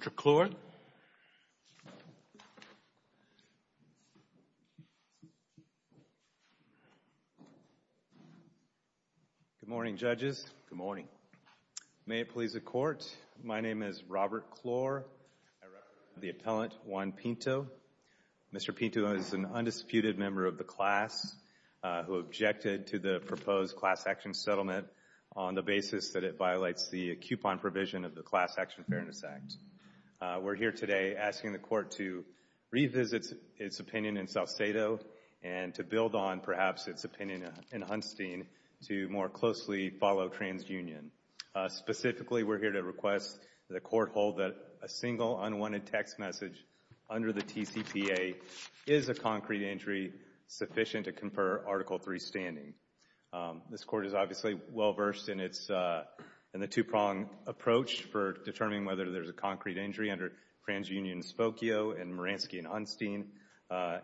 Mr. Clore Good morning judges, good morning. May it please the court, my name is Robert Clore, I represent the appellant Juan Pinto. Mr. Pinto is an undisputed member of the class who objected to the proposed class action settlement on the basis that it violates the coupon provision of the Class Action Fairness Act. We're here today asking the court to revisit its opinion in Salcedo and to build on perhaps its opinion in Hunstein to more closely follow TransUnion. Specifically we're here to request that the court hold that a single unwanted text message under the TCPA is a concrete injury sufficient to confer Article III standing. This court is obviously well versed in its two-pronged approach for determining whether there's a concrete injury under TransUnion and Spokio and Maransky and Hunstein.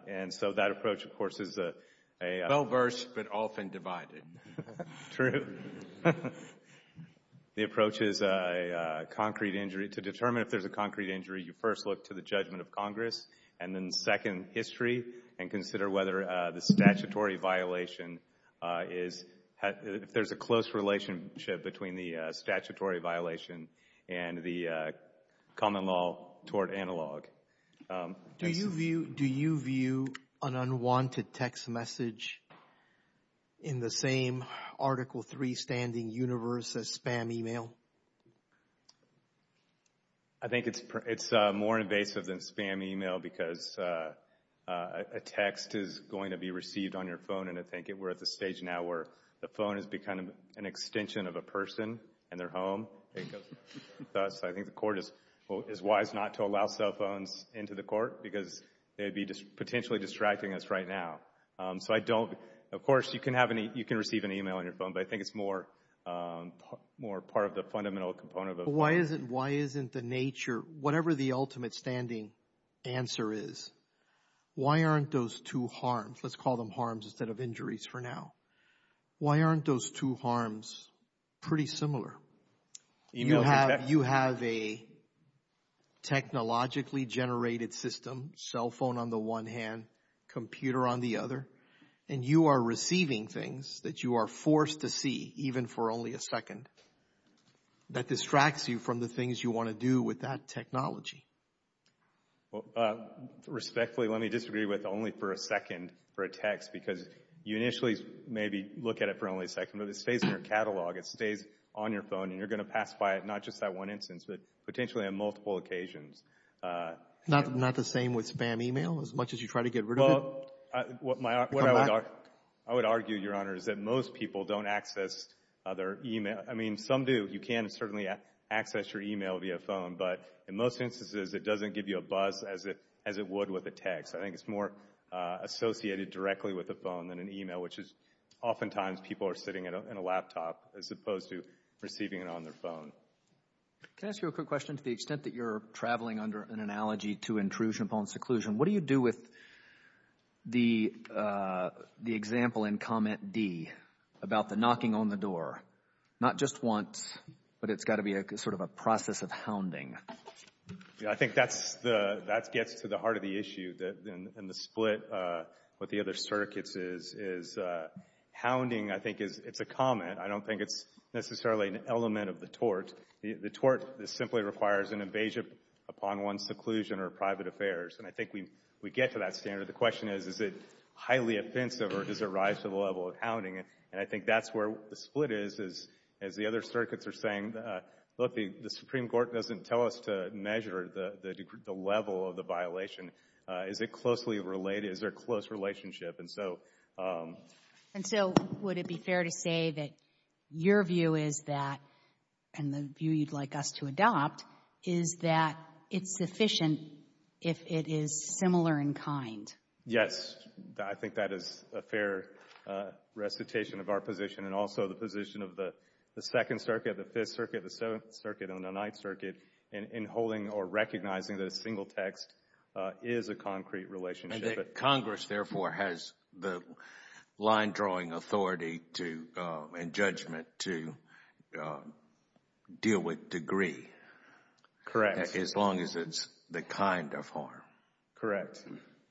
And so that approach of course is a well versed but often divided. True. The approach is a concrete injury to determine if there's a concrete injury you first look to the judgment of Congress and then second history and consider whether the statutory violation is, if there's a close relationship between the statutory violation and the common law toward analog. Do you view an unwanted text message in the same Article III standing universe as spam email? I think it's more invasive than spam email because a text is going to be received on your phone and I think we're at the stage now where the phone has become an extension of a person and their home. I think the court is wise not to allow cell phones into the court because they'd be potentially distracting us right now. So I don't, of course you can receive an email on your phone but I think it's more part of the fundamental component of a phone. Why isn't the nature, whatever the ultimate standing answer is, why aren't those two harms, let's call them harms instead of injuries for now, why aren't those two harms pretty similar? You have a technologically generated system, cell phone on the one hand, computer on the other and you are receiving things that you are forced to see even for only a second. That distracts you from the things you want to do with that technology. Respectfully, let me disagree with only for a second for a text because you initially maybe look at it for only a second but it stays in your catalog, it stays on your phone and you're going to pass by it not just that one instance but potentially on multiple occasions. Not the same with spam email as much as you try to get rid of it? I would argue, Your Honor, is that most people don't access other email, I mean some do, you can certainly access your email via phone but in most instances it doesn't give you a buzz as it would with a text. I think it's more associated directly with a phone than an email which is oftentimes people are sitting in a laptop as opposed to receiving it on their phone. Can I ask you a quick question to the extent that you're traveling under an analogy to intrusion upon seclusion, what do you do with the example in comment D about the knocking on the door? Not just once but it's got to be a sort of a process of hounding. I think that gets to the heart of the issue and the split with the other circuits is hounding I think it's a comment, I don't think it's necessarily an element of the tort. The tort simply requires an invasion upon one's seclusion or private affairs and I think we get to that standard. The question is, is it highly offensive or does it rise to the level of hounding and I think that's where the split is, is as the other circuits are saying, look the Supreme Court doesn't tell us to measure the level of the violation. Is it closely related, is there a close relationship and so. And so would it be fair to say that your view is that and the view you'd like us to adopt is that it's sufficient if it is similar in kind? Yes, I think that is a fair recitation of our position and also the position of the Second Circuit, the Fifth Circuit, the Seventh Circuit and the Ninth Circuit in holding or recognizing that a single text is a concrete relationship. Congress therefore has the line drawing authority to and judgment to deal with degree. Correct. As long as it's the kind of harm. Correct.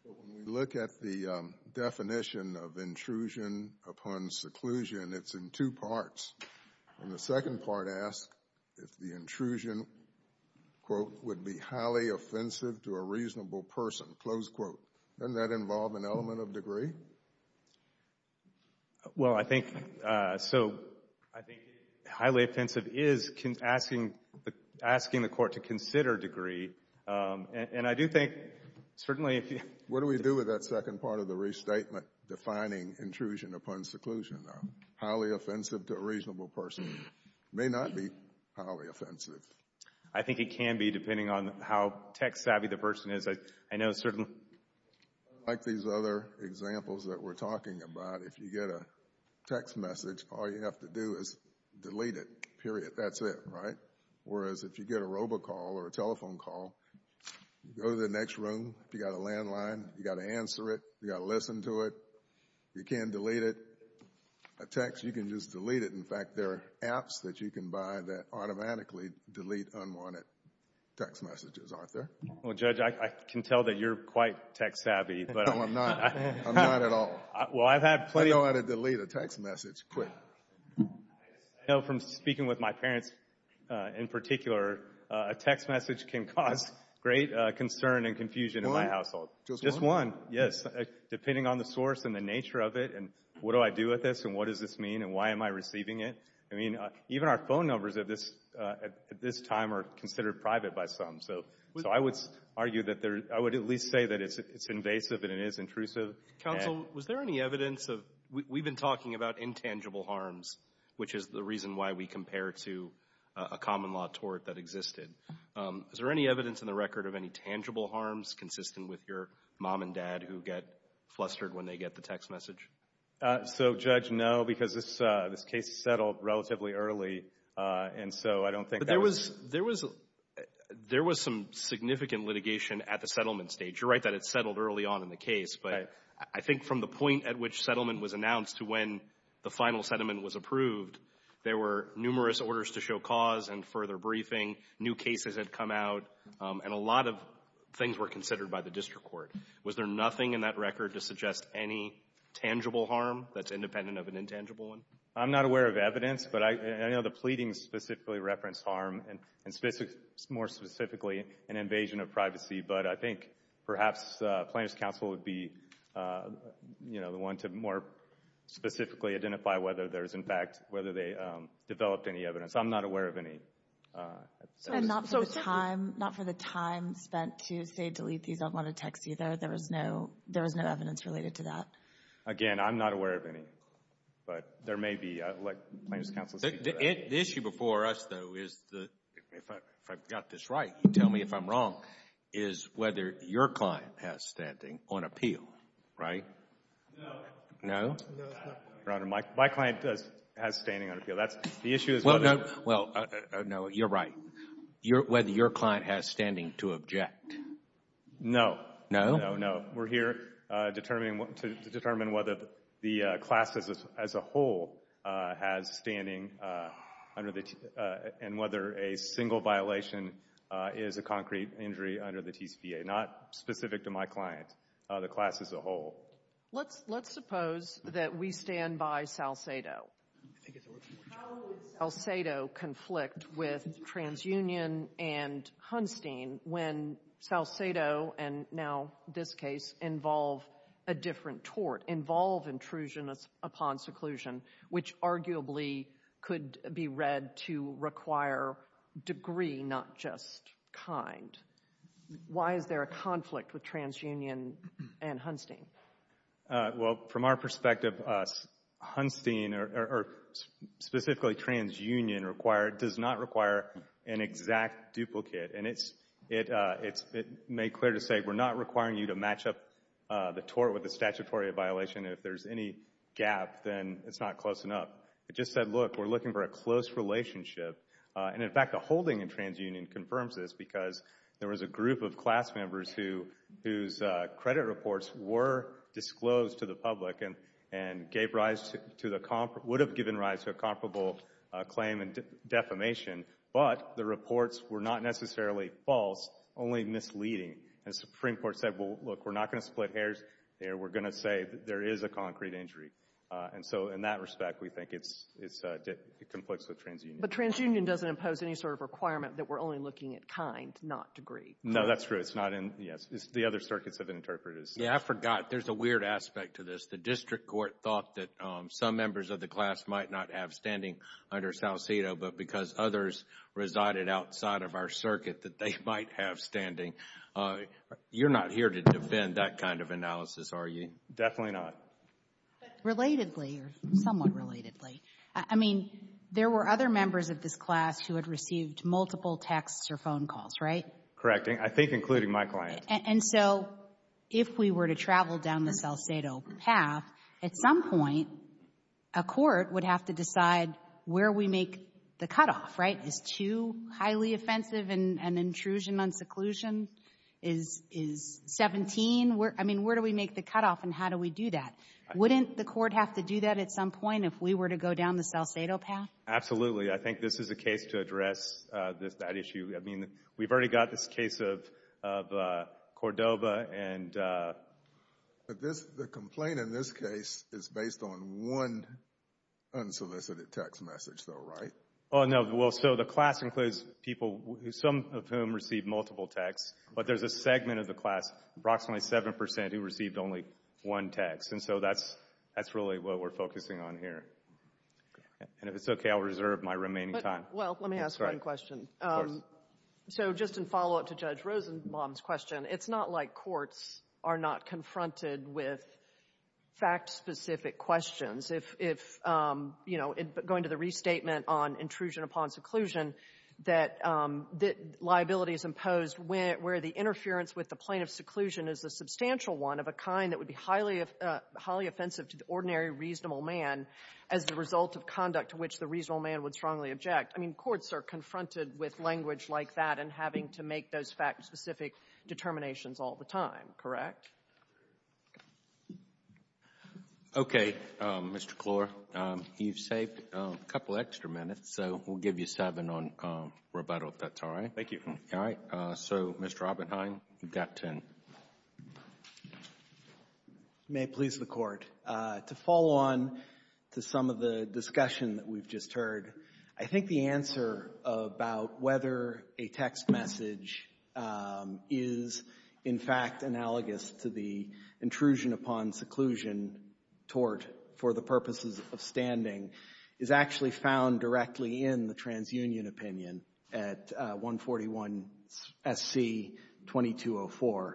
When we look at the definition of intrusion upon seclusion, it's in two parts and the second part asks if the intrusion, quote, would be highly offensive to a reasonable person, close quote. Doesn't that involve an element of degree? Well I think, so I think highly offensive is asking the court to consider degree and I do think certainly. What do we do with that second part of the restatement defining intrusion upon seclusion though? Highly offensive to a reasonable person may not be highly offensive. I think it can be depending on how text savvy the person is. I know certainly. Like these other examples that we're talking about, if you get a text message, all you have to do is delete it, period, that's it, right? Whereas if you get a robocall or a telephone call, you go to the next room, you got a landline, you got to answer it, you got to listen to it, you can't delete it, a text, you can just delete it. In fact, there are apps that you can buy that automatically delete unwanted text messages, aren't there? Well Judge, I can tell that you're quite text savvy but. No, I'm not. I'm not at all. Well, I've had plenty. I know how to delete a text message quick. I know from speaking with my parents in particular, a text message can cause great concern and confusion in my household. Just one? Just one, yes. Depending on the source and the nature of it and what do I do with this and what does this mean and why am I receiving it? I mean, even our phone numbers at this time are considered private by some. So I would argue that there, I would at least say that it's invasive and it is intrusive. Counsel, was there any evidence of, we've been talking about intangible harms, which is the reason why we compare to a common law tort that existed. Is there any evidence in the record of any tangible harms consistent with your mom and dad who get flustered when they get the text message? So Judge, no, because this case settled relatively early and so I don't think that was. There was some significant litigation at the settlement stage. You're right that it settled early on in the case, but I think from the point at which settlement was announced to when the final settlement was approved, there were numerous orders to show cause and further briefing. New cases had come out and a lot of things were considered by the district court. Was there nothing in that record to suggest any tangible harm that's independent of an intangible one? I'm not aware of evidence, but I know the pleading specifically referenced harm and more specifically an invasion of privacy, but I think perhaps plaintiff's counsel would be the one to more specifically identify whether there is in fact, whether they developed any evidence. I'm not aware of any. And not for the time, not for the time spent to say delete these unwanted texts either. There was no, there was no evidence related to that. Again, I'm not aware of any, but there may be, let plaintiff's counsel speak to that. The issue before us though is, if I've got this right, you tell me if I'm wrong, is whether your client has standing on appeal, right? No. No? No, it's not fair. Your Honor, my client does, has standing on appeal. That's, the issue is whether. Well, no, well, no, you're right. Whether your client has standing to object. No. No? No, no. We're here determining, to determine whether the class as a whole has standing under the, and whether a single violation is a concrete injury under the TCPA. Not specific to my client, the class as a whole. Let's suppose that we stand by Salcedo. How would Salcedo conflict with TransUnion and Hunstein when Salcedo, and now this case involve a different tort, involve intrusion upon seclusion, which arguably could be read to require degree, not just kind? Why is there a conflict with TransUnion and Hunstein? Well, from our perspective, Hunstein, or specifically TransUnion required, does not require an exact matchup, the tort with the statutory violation, and if there's any gap, then it's not close enough. It just said, look, we're looking for a close relationship, and in fact, the holding in TransUnion confirms this because there was a group of class members who, whose credit reports were disclosed to the public and, and gave rise to the, would have given rise to a comparable claim and defamation, but the reports were not necessarily false, only misleading. And the Supreme Court said, well, look, we're not going to split hairs there. We're going to say that there is a concrete injury. And so in that respect, we think it's, it's, it conflicts with TransUnion. But TransUnion doesn't impose any sort of requirement that we're only looking at kind, not degree. No, that's true. It's not in, yes. The other circuits have interpreted this. Yeah, I forgot. There's a weird aspect to this. The district court thought that some members of the class might not have standing under Salcedo, but because others resided outside of our circuit, that they might have standing. You're not here to defend that kind of analysis, are you? Definitely not. But relatedly, or somewhat relatedly, I mean, there were other members of this class who had received multiple texts or phone calls, right? Correct. I think including my client. And so if we were to travel down the Salcedo path, at some point, a court would have to make the cutoff, right? Is too highly offensive and intrusion on seclusion is, is 17, where, I mean, where do we make the cutoff and how do we do that? Wouldn't the court have to do that at some point if we were to go down the Salcedo path? Absolutely. I think this is a case to address this, that issue. I mean, we've already got this case of, of Cordova and. But this, the complaint in this case is based on one unsolicited text message though, right? Oh, no. Well, so the class includes people who, some of whom received multiple texts, but there's a segment of the class, approximately 7%, who received only one text. And so that's, that's really what we're focusing on here. And if it's okay, I'll reserve my remaining time. Well, let me ask one question. Yes. So just in follow-up to Judge Rosenbaum's question, it's not like courts are not confronted with fact-specific questions. If, if, you know, going to the restatement on intrusion upon seclusion, that, that liability is imposed when, where the interference with the plaintiff's seclusion is a substantial one of a kind that would be highly, highly offensive to the ordinary reasonable man as the result of conduct to which the reasonable man would strongly object. I mean, courts are confronted with language like that and having to make those fact-specific determinations all the time, correct? Okay. Mr. Klor, you've saved a couple of extra minutes, so we'll give you seven on Roberto if that's all right. Thank you. All right. So, Mr. Oppenheim, you've got ten. May it please the Court, to follow on to some of the discussion that we've just heard, I think the answer about whether a text message is, in fact, analogous to the intrusion upon seclusion tort for the purposes of standing is actually found directly in the TransUnion opinion at 141SC2204,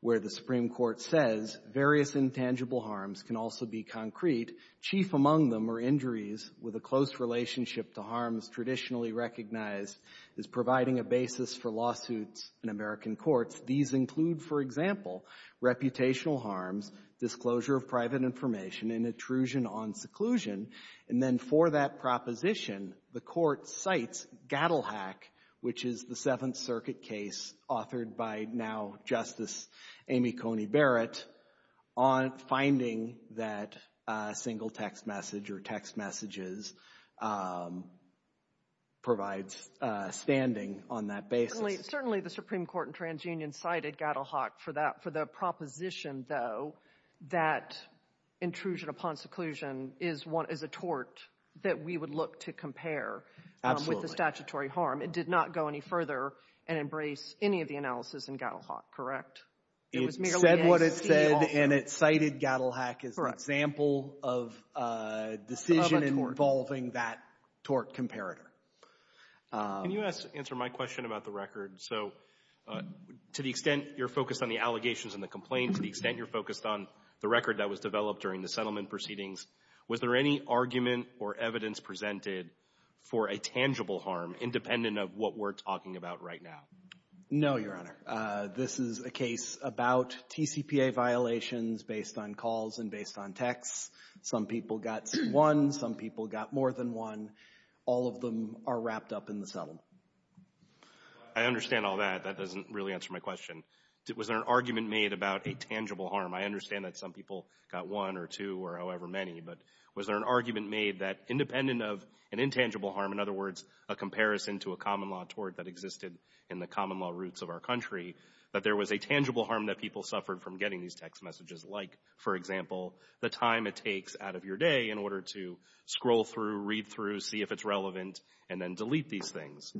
where the Supreme Court says, various intangible harms can also be concrete. Chief among them are injuries with a close relationship to harms traditionally recognized as providing a basis for lawsuits in American courts. These include, for example, reputational harms, disclosure of private information, and intrusion on seclusion. And then for that proposition, the Court cites Gattelhack, which is the Seventh Single Text Message, or text messages, provides standing on that basis. Certainly, the Supreme Court in TransUnion cited Gattelhack for the proposition, though, that intrusion upon seclusion is a tort that we would look to compare with the statutory harm. It did not go any further and embrace any of the analysis in Gattelhack, correct? It was merely a scheme offer. And it cited Gattelhack as an example of a decision involving that tort comparator. Can you answer my question about the record? So to the extent you're focused on the allegations and the complaints, to the extent you're focused on the record that was developed during the settlement proceedings, was there any argument or evidence presented for a tangible harm, independent of what we're talking about right now? No, Your Honor. This is a case about TCPA violations based on calls and based on texts. Some people got one. Some people got more than one. All of them are wrapped up in the settlement. I understand all that. That doesn't really answer my question. Was there an argument made about a tangible harm? I understand that some people got one or two or however many. But was there an argument made that, independent of an intangible harm, in other words, a comparison to a common law tort that existed in the common law roots of our country, that there was a tangible harm that people suffered from getting these text messages, like, for example, the time it takes out of your day in order to scroll through, read through, see if it's relevant, and then delete these things?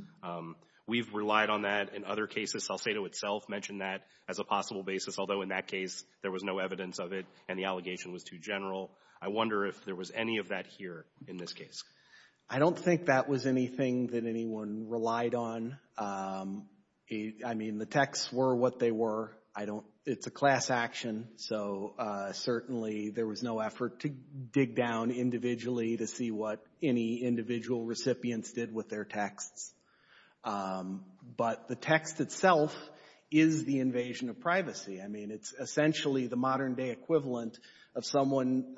We've relied on that in other cases. Salcedo itself mentioned that as a possible basis, although in that case, there was no evidence of it and the allegation was too general. I wonder if there was any of that here in this case. I don't think that was anything that anyone relied on. I mean, the texts were what they were. It's a class action, so certainly there was no effort to dig down individually to see what any individual recipients did with their texts. But the text itself is the invasion of privacy. I mean, it's essentially the modern day equivalent of someone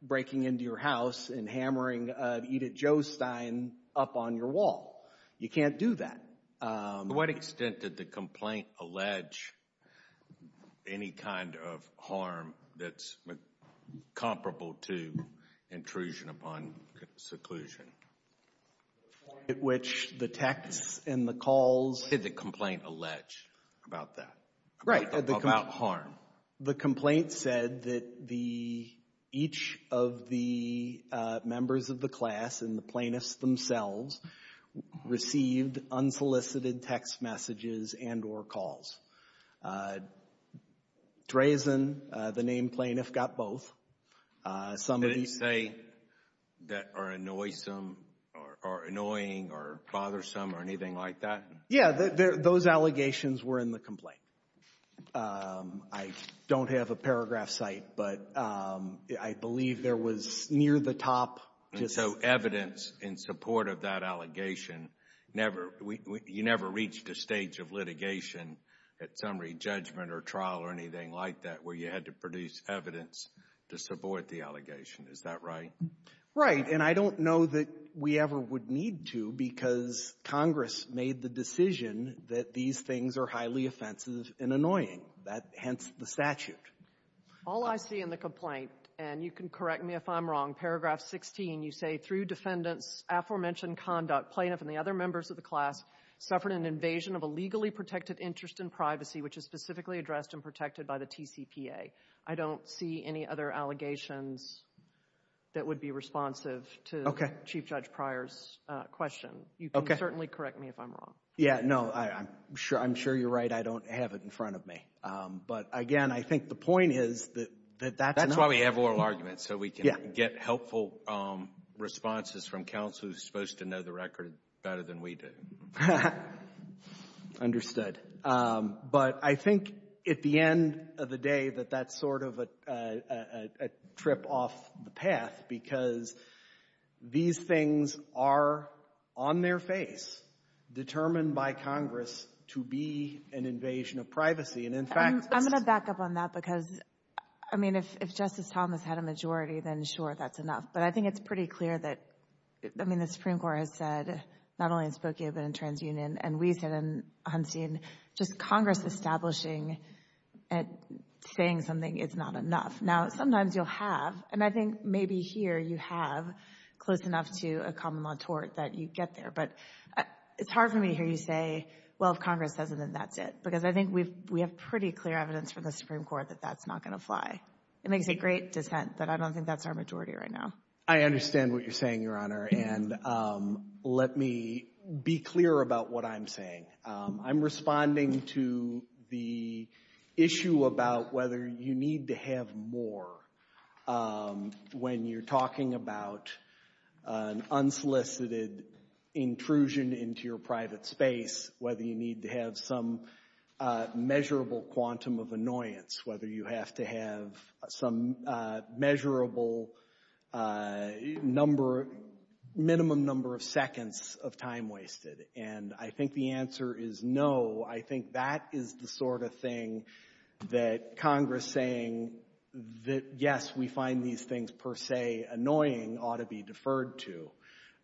breaking into your house and hammering Edith Jostein up on your wall. You can't do that. To what extent did the complaint allege any kind of harm that's comparable to intrusion upon seclusion? At which the texts and the calls... Did the complaint allege about that? Right. About harm? The complaint said that each of the members of the class and the plaintiffs themselves received unsolicited text messages and or calls. Drazen, the named plaintiff, got both. Some of these... They didn't say that are annoysome or annoying or bothersome or anything like that? Yeah, those allegations were in the complaint. I don't have a paragraph site, but I believe there was near the top... And so evidence in support of that allegation, you never reached a stage of litigation at summary judgment or trial or anything like that where you had to produce evidence to support the allegation. Is that right? Right. And I don't know that we ever would need to because Congress made the decision that these things are highly offensive and annoying, hence the statute. All I see in the complaint, and you can correct me if I'm wrong, paragraph 16, you say, through defendant's aforementioned conduct, plaintiff and the other members of the class suffered an invasion of a legally protected interest in privacy, which is specifically addressed and protected by the TCPA. I don't see any other allegations that would be responsive to Chief Judge Pryor's question. You can certainly correct me if I'm wrong. Yeah, no, I'm sure you're right. I don't have it in front of me. But again, I think the point is that that's enough. That's why we have oral arguments, so we can get helpful responses from counsel who's supposed to know the record better than we do. Understood. But I think at the end of the day that that's sort of a trip off the path because these things are on their face, determined by Congress to be an invasion of privacy. And in fact— I'm going to back up on that because, I mean, if Justice Thomas had a majority, then sure, that's enough. But I think it's pretty clear that, I mean, the Supreme Court has said, not only in Spokane but in TransUnion, and Weiss and Hunstein, just Congress establishing and saying something, it's not enough. Now, sometimes you'll have, and I think maybe here you have, close enough to a common law tort that you get there. But it's hard for me to hear you say, well, if Congress says it, then that's it. Because I think we have pretty clear evidence from the Supreme Court that that's not going to fly. It makes a great dissent, but I don't think that's our majority right now. I understand what you're saying, Your Honor, and let me be clear about what I'm saying. I'm responding to the issue about whether you need to have more when you're talking about an unsolicited intrusion into your private space, whether you need to have some measurable quantum of annoyance, whether you have to have some measurable number, minimum number of seconds of time wasted. And I think the answer is no. I think that is the sort of thing that Congress saying that, yes, we find these things per se annoying ought to be deferred to.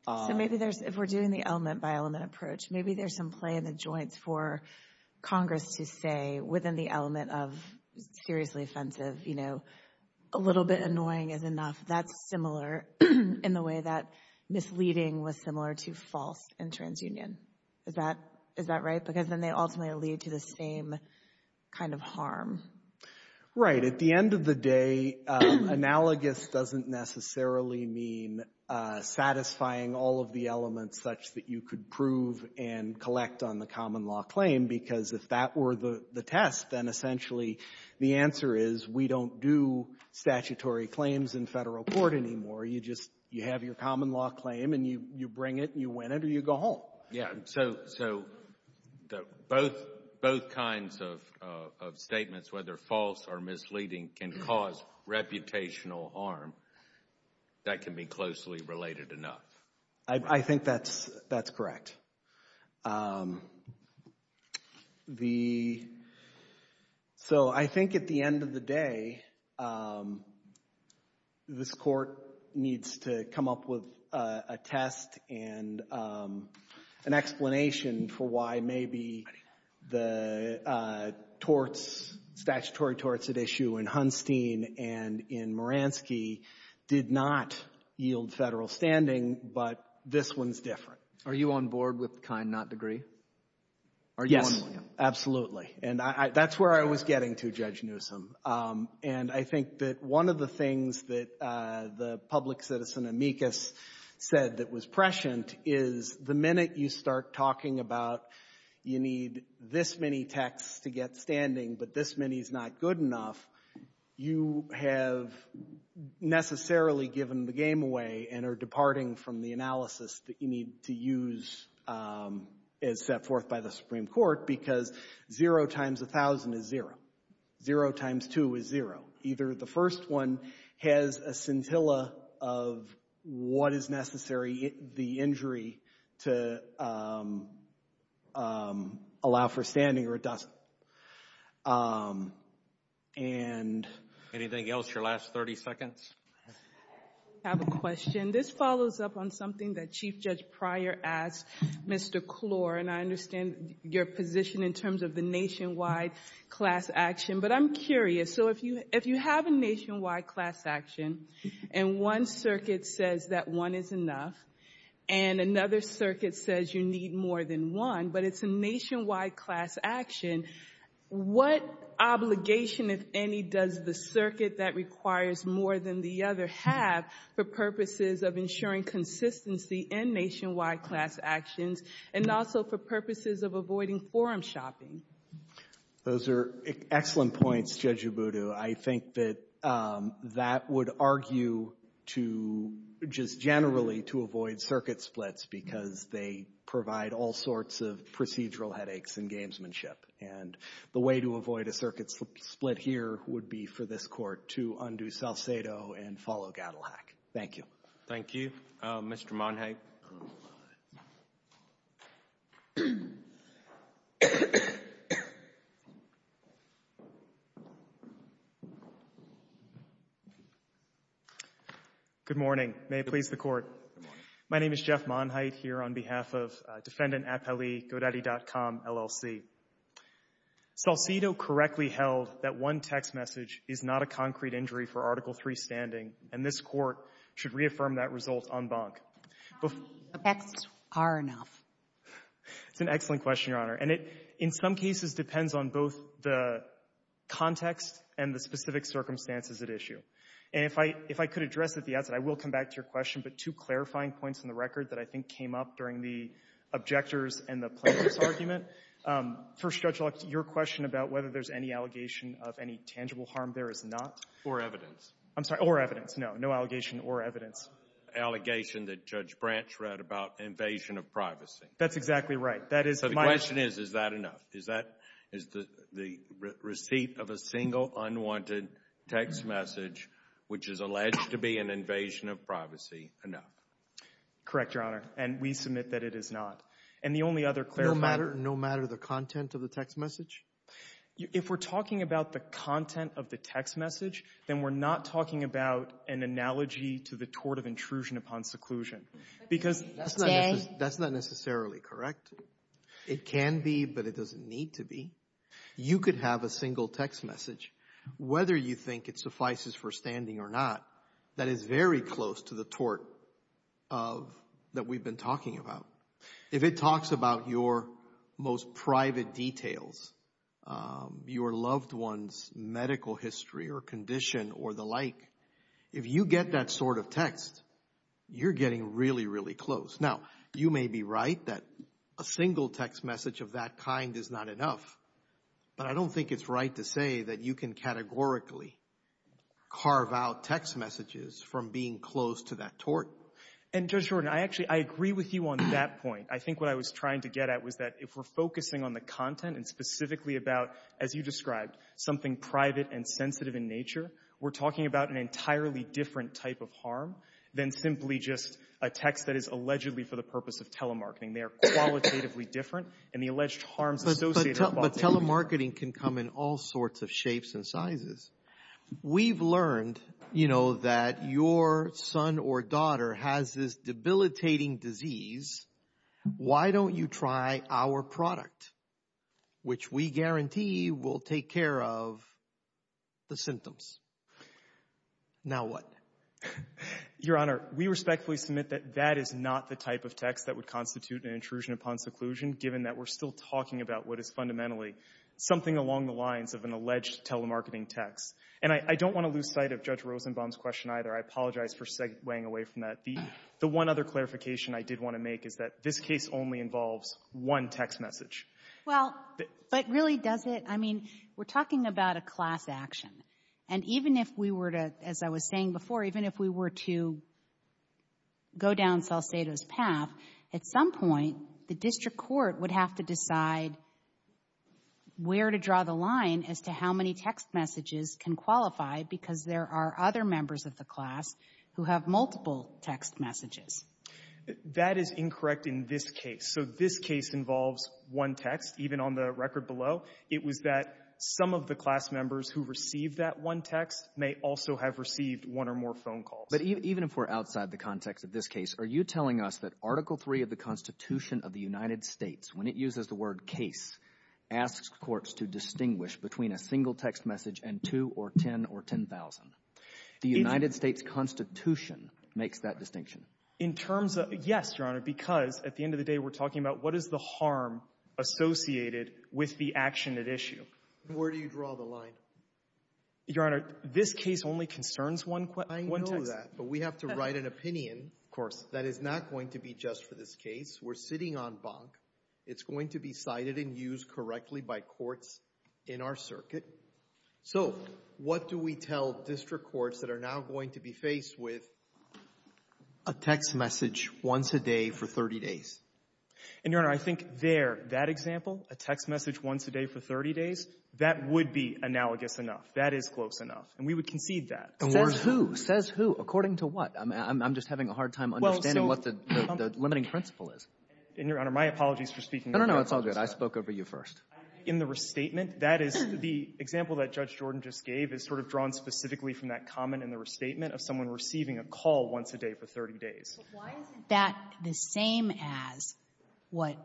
So maybe there's, if we're doing the element-by-element approach, maybe there's some play in the joints for Congress to say within the element of seriously offensive, you know, a little bit annoying is enough. That's similar in the way that misleading was similar to false in transunion. Is that right? Because then they ultimately lead to the same kind of harm. Right. At the end of the day, analogous doesn't necessarily mean satisfying all of the elements such that you could prove and collect on the common law claim, because if that were the you just, you have your common law claim, and you bring it, and you win it, or you go home. Yeah. So both kinds of statements, whether false or misleading, can cause reputational harm. That can be closely related enough. I think that's correct. So I think at the end of the day, this Court needs to come up with a test and an explanation for why maybe the torts, statutory torts at issue in Hunstein and in Moransky did not yield Federal standing, but this one's different. Are you on board with kind, not degree? Yes. Are you on board? Absolutely. And that's where I was getting to, Judge Newsom. And I think that one of the things that the public citizen, Amicus, said that was prescient is the minute you start talking about you need this many texts to get standing, but this many is not good enough, you have necessarily given the game away and are departing from the analysis that you need to use as set forth by the Supreme Court, because zero times a thousand is zero. Zero times two is zero. Either the first one has a scintilla of what is necessary, the injury, to allow for standing or it doesn't. Anything else? Your last 30 seconds. I have a question. This follows up on something that Chief Judge Pryor asked Mr. Klor, and I understand your position in terms of the nationwide class action, but I'm curious. So if you have a nationwide class action and one circuit says that one is enough and another circuit says you need more than one, but it's a nationwide class action, what obligation, if any, does the circuit that requires more than the other have for purposes of ensuring consistency in nationwide class actions and also for purposes of avoiding forum shopping? Those are excellent points, Judge Ubudu. I think that that would argue to just generally to avoid circuit splits because they provide all sorts of procedural headaches in gamesmanship, and the way to avoid a circuit split here would be for this Court to undo Salcedo and follow Gaddelhack. Thank you. Thank you. Mr. Monhite. May it please the Court. Good morning. My name is Jeff Monhite here on behalf of Defendant Apelli, GoDaddy.com, LLC. Salcedo correctly held that one text message is not a concrete injury for Article III standing, and this Court should reaffirm that result en banc. How many effects are enough? It's an excellent question, Your Honor, and it in some cases depends on both the context and the specific circumstances at issue, and if I could address at the outset, I will come back to your question, but two clarifying points in the record that I think came up during the objectors and the plaintiffs' argument. First, Judge Lux, your question about whether there's any allegation of any tangible harm there is not. Or evidence. I'm sorry, or evidence. No, no allegation or evidence. Allegation that Judge Branch read about invasion of privacy. That's exactly right. That is my— So the question is, is that enough? Is that—is the receipt of a single unwanted text message, which is alleged to be an invasion of privacy, enough? Correct, Your Honor, and we submit that it is not. And the only other clarifying— No matter the content of the text message? If we're talking about the content of the text message, then we're not talking about an analogy to the tort of intrusion upon seclusion, because— That's not necessarily correct. It can be, but it doesn't need to be. You could have a single text message, whether you think it suffices for standing or not, that is very close to the tort of—that we've been talking about. If it talks about your most private details, your loved one's medical history or condition or the like, if you get that sort of text, you're getting really, really close. Now, you may be right that a single text message of that kind is not enough, but I don't think it's right to say that you can categorically carve out text messages from being close to that tort. And, Judge Jordan, I actually—I agree with you on that point. I think what I was trying to get at was that if we're focusing on the content and specifically about, as you described, something private and sensitive in nature, we're talking about an entirely different type of harm than simply just a text that is allegedly for the purpose of telemarketing. They are qualitatively different, and the alleged harms associated with— But telemarketing can come in all sorts of shapes and sizes. We've learned, you know, that your son or daughter has this debilitating disease. Why don't you try our product, which we guarantee will take care of the symptoms? Now what? Your Honor, we respectfully submit that that is not the type of text that would constitute an intrusion upon seclusion, given that we're still talking about what is fundamentally something along the lines of an alleged telemarketing text. And I don't want to lose sight of Judge Rosenbaum's question either. I apologize for weighing away from that. The one other clarification I did want to make is that this case only involves one text message. Well, but really, does it—I mean, we're talking about a class action. And even if we were to, as I was saying before, even if we were to go down Salcedo's path, at some point, the district court would have to decide where to draw the line as to how many text messages can qualify, because there are other members of the class who have multiple text messages. That is incorrect in this case. So this case involves one text, even on the record below. It was that some of the class members who received that one text may also have received one or more phone calls. But even if we're outside the context of this case, are you telling us that Article 3 of the Constitution of the United States, when it uses the word case, asks courts to distinguish between a single text message and two or 10 or 10,000? The United States Constitution makes that distinction. In terms of—yes, Your Honor, because at the end of the day, we're talking about what is the harm associated with the action at issue. Where do you draw the line? Your Honor, this case only concerns one text. I know that. But we have to write an opinion that is not going to be just for this case. We're sitting on bonk. It's going to be cited and used correctly by courts in our circuit. So what do we tell district courts that are now going to be faced with a text message once a day for 30 days? And Your Honor, I think there, that example, a text message once a day for 30 days, that would be analogous enough. That is close enough. And we would concede that. Says who? Says who? According to what? I'm just having a hard time understanding what the limiting principle is. And, Your Honor, my apologies for speaking— No, no, no. It's all good. I spoke over you first. In the restatement, that is the example that Judge Jordan just gave is sort of drawn specifically from that comment in the restatement of someone receiving a call once a day for 30 days. But why is that the same as what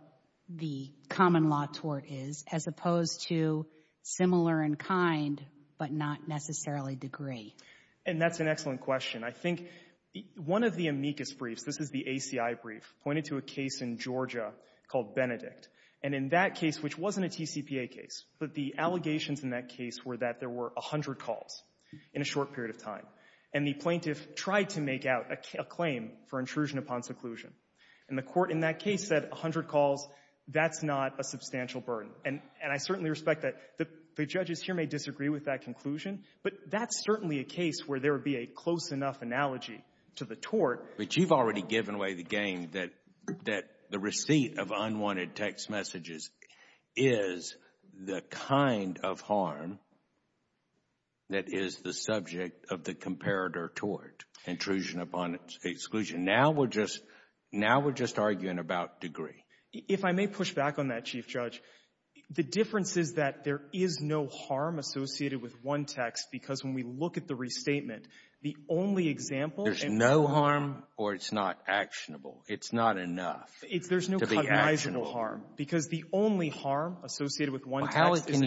the common law tort is, as opposed to similar in kind but not necessarily degree? And that's an excellent question. I think one of the amicus briefs, this is the ACI brief, pointed to a case in Georgia called Benedict. And in that case, which wasn't a TCPA case, but the allegations in that case were that there were 100 calls in a short period of time. And the plaintiff tried to make out a claim for intrusion upon seclusion. And the Court in that case said 100 calls, that's not a substantial burden. And I certainly respect that the judges here may disagree with that conclusion. But that's certainly a case where there would be a close enough analogy to the tort. But you've already given away the game that the receipt of unwanted text messages is the kind of harm that is the subject of the comparator tort, intrusion upon exclusion. Now we're just arguing about degree. If I may push back on that, Chief Judge, the difference is that there is no harm associated with one text because when we look at the restatement, the only example and the only There's no harm or it's not actionable. It's not enough to be actionable. There's no cognizant of harm because the only harm associated with one text is the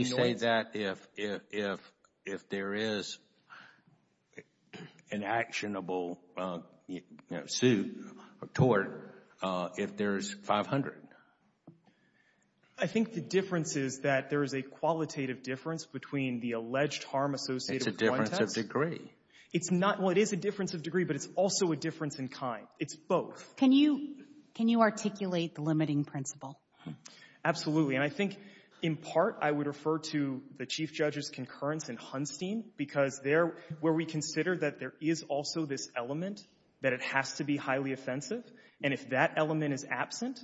I think the difference is that there is a qualitative difference between the alleged harm associated with one text. It's a difference of degree. It's not what is a difference of degree, but it's also a difference in kind. It's both. Can you articulate the limiting principle? Absolutely. And I think in part I would refer to the Chief Judge's concurrence in Hunstein because there where we consider that there is also this element that it has to be highly offensive, and if that element is absent,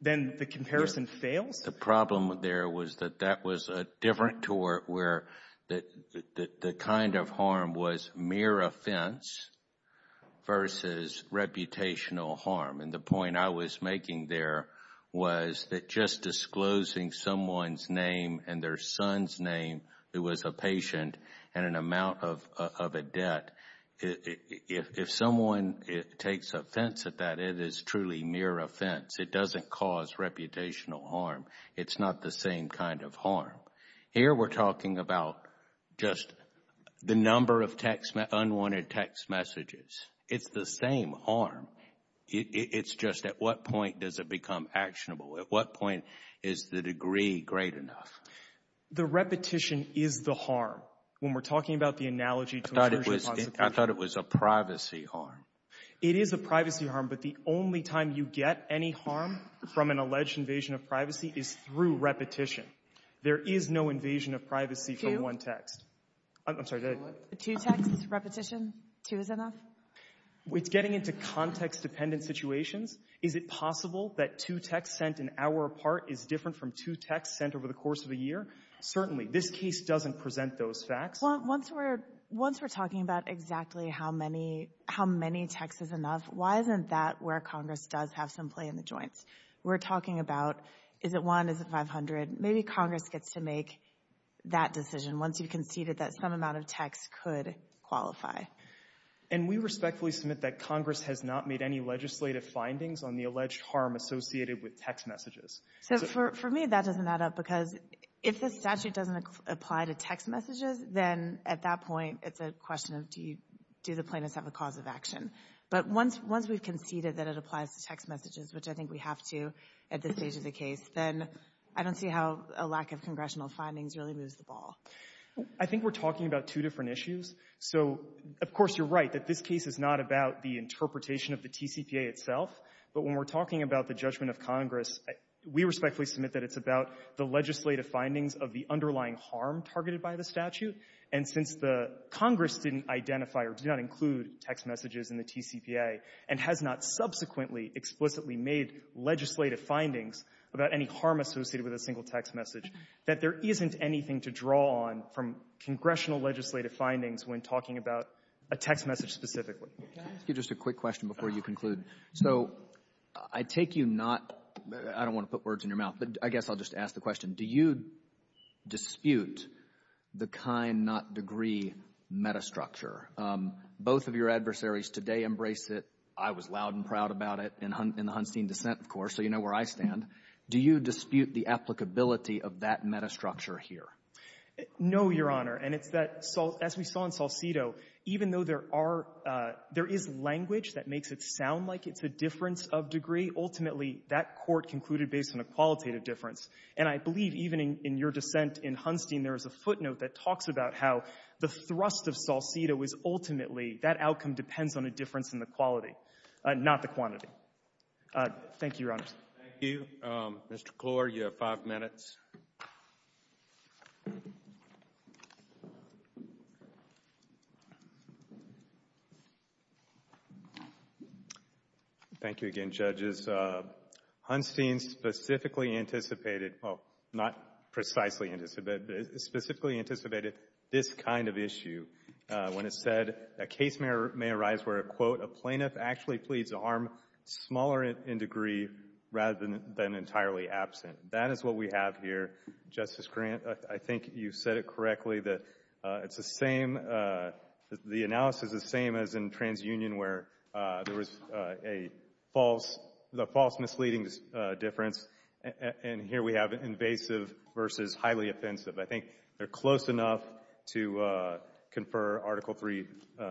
then the comparison fails. The problem there was that that was a different tort where the kind of harm was mere offense versus reputational harm, and the point I was making there was that just disclosing someone's name and their son's name, it was a patient and an amount of a debt. If someone takes offense at that, it is truly mere offense. It doesn't cause reputational harm. It's not the same kind of harm. Here we're talking about just the number of unwanted text messages. It's the same harm. It's just at what point does it become actionable? At what point is the degree great enough? The repetition is the harm. When we're talking about the analogy to internship prosecution. I thought it was a privacy harm. It is a privacy harm, but the only time you get any harm from an alleged invasion of privacy is through repetition. There is no invasion of privacy from one text. Two texts, repetition, two is enough? It's getting into context-dependent situations. Is it possible that two texts sent an hour apart is different from two texts sent over the course of a year? Certainly. This case doesn't present those facts. Well, once we're talking about exactly how many texts is enough, why isn't that where Congress does have some play in the joints? We're talking about is it one, is it 500? Maybe Congress gets to make that decision once you've conceded that some amount of text could qualify. And we respectfully submit that Congress has not made any legislative findings on the alleged harm associated with text messages. So for me, that doesn't add up because if the statute doesn't apply to text messages, then at that point, it's a question of do the plaintiffs have a cause of action? But once we've conceded that it applies to text messages, which I think we have to at this stage of the case, then I don't see how a lack of congressional findings really moves the ball. I think we're talking about two different issues. So of course you're right that this case is not about the interpretation of the TCPA itself, but when we're talking about the judgment of Congress, we respectfully submit that it's about the legislative findings of the underlying harm targeted by the statute. And since the Congress didn't identify or do not include text messages in the TCPA and has not subsequently explicitly made legislative findings about any harm associated with a single text message, that there isn't anything to draw on from congressional Roberts. Let me ask you just a quick question before you conclude. So I take you not — I don't want to put words in your mouth, but I guess I'll just ask the question. Do you dispute the kind-not-degree metastructure? Both of your adversaries today embrace it. I was loud and proud about it in the Hunstein dissent, of course, so you know where I stand. Do you dispute the applicability of that metastructure here? No, Your Honor. And it's that — as we saw in Salcido, even though there are — there is language that makes it sound like it's a difference of degree, ultimately, that court concluded based on a qualitative difference. And I believe even in your dissent in Hunstein, there is a footnote that talks about how the thrust of Salcido is ultimately that outcome depends on a difference Thank you, Your Honors. Thank you. Mr. Klor, you have five minutes. Thank you again, Judges. Hunstein specifically anticipated — well, not precisely anticipated, but specifically anticipated this kind of issue when it said a case may arise where, quote, a plaintiff actually pleads a harm smaller in degree rather than entirely absent. That is what we have here. Justice Grant, I think you said it correctly that it's the same — the analysis is the same as in TransUnion where there was a false — the false misleading difference. And here we have invasive versus highly offensive. I think they're close enough to confer Article III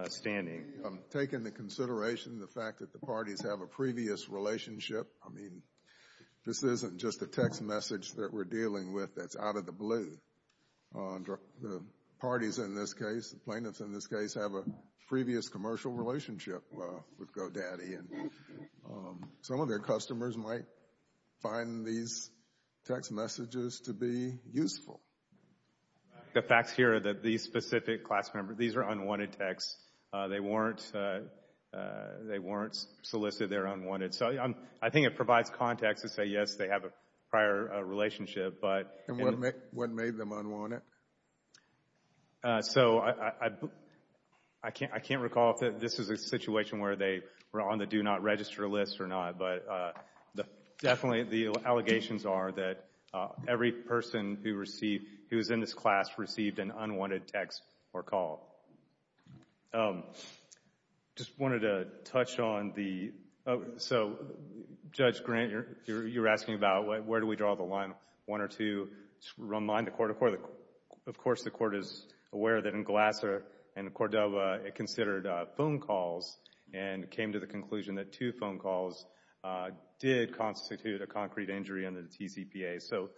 standing. Taking into consideration the fact that the parties have a previous relationship, I mean, this isn't just a text message that we're dealing with that's out of the blue. The parties in this case, the plaintiffs in this case, have a previous commercial relationship with GoDaddy. And some of their customers might find these text messages to be useful. The facts here are that these specific class members — these are unwanted texts. They weren't — they weren't solicited. They're unwanted. So I think it provides context to say, yes, they have a prior relationship, but — And what made them unwanted? So I can't recall if this is a situation where they were on the do-not-register list or not. But definitely the allegations are that every person who received — who was in this class received an unwanted text or call. Just wanted to touch on the — so, Judge Grant, you're asking about where do we draw the line, one or two. To remind the Court of course the Court is aware that in Glasser and Cordova it considered phone calls and came to the conclusion that two phone calls did constitute a concrete injury under the TCPA. So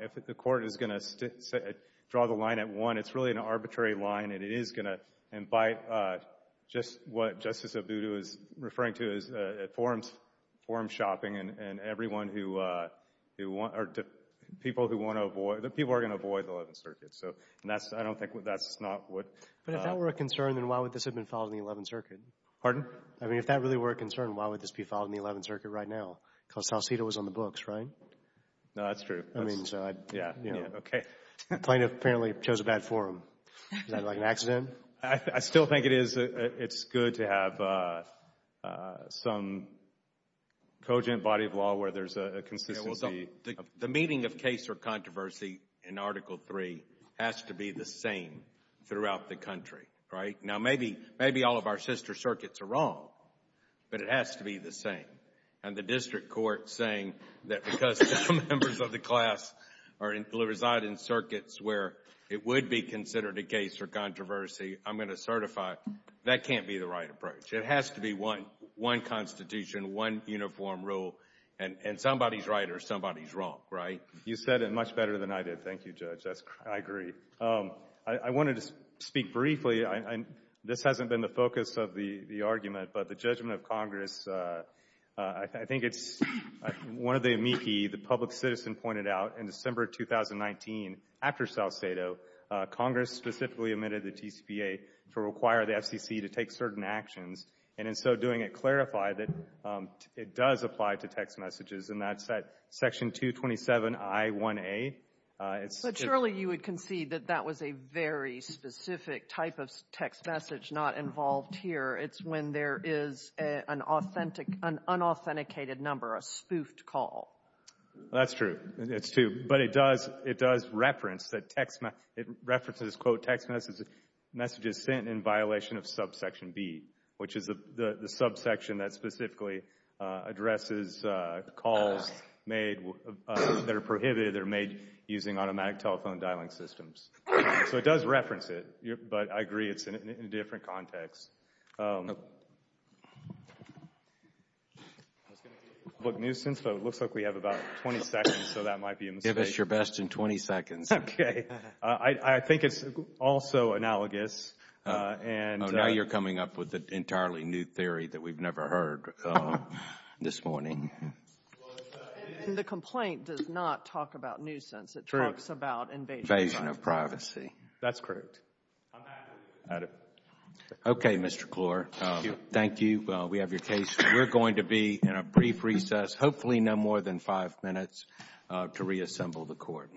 if the Court is going to draw the line at one, it's really an arbitrary line and it is going to invite just what Justice Abudu is referring to as forum shopping and everyone who — people who want to avoid — people who are going to avoid the Eleventh Circuit. So that's — I don't think that's not what — But if that were a concern, then why would this have been filed in the Eleventh Circuit? Pardon? I mean, if that really were a concern, why would this be filed in the Eleventh Circuit right now? Because Salcido was on the books, right? No, that's true. I mean, so I — Yeah. Yeah. Okay. The plaintiff apparently chose a bad forum. Is that like an accident? I still think it is — it's good to have some cogent body of law where there's a consistency. The meaning of case or controversy in Article III has to be the same throughout the country, right? Now, maybe all of our sister circuits are wrong, but it has to be the same. And the district court saying that because some members of the class reside in circuits where it would be considered a case or controversy, I'm going to certify — that can't be the right approach. It has to be one constitution, one uniform rule. And somebody's right or somebody's wrong, right? You said it much better than I did. Thank you, Judge. That's — I agree. I wanted to speak briefly. This hasn't been the focus of the argument, but the judgment of Congress, I think it's one of the amici the public citizen pointed out in December 2019 after South Sato, Congress specifically amended the TCPA to require the FCC to take certain actions, and in so doing it clarified that it does apply to text messages, and that's at Section 227I1A. But surely you would concede that that was a very specific type of text message not involved here. It's when there is an unauthenticated number, a spoofed call. That's true. It's true. But it does reference that text messages sent in violation of subsection B, which is the using automatic telephone dialing systems. So it does reference it, but I agree it's in a different context. I was going to say public nuisance, but it looks like we have about 20 seconds, so that might be a mistake. Give us your best in 20 seconds. Okay. I think it's also analogous, and — Oh, now you're coming up with an entirely new theory that we've never heard this morning. And the complaint does not talk about nuisance. True. It talks about invasion of privacy. Invasion of privacy. That's correct. I'm happy to add it. Okay, Mr. Klor. Thank you. Thank you. We have your case. We're going to be in a brief recess, hopefully no more than five minutes, to reassemble the court.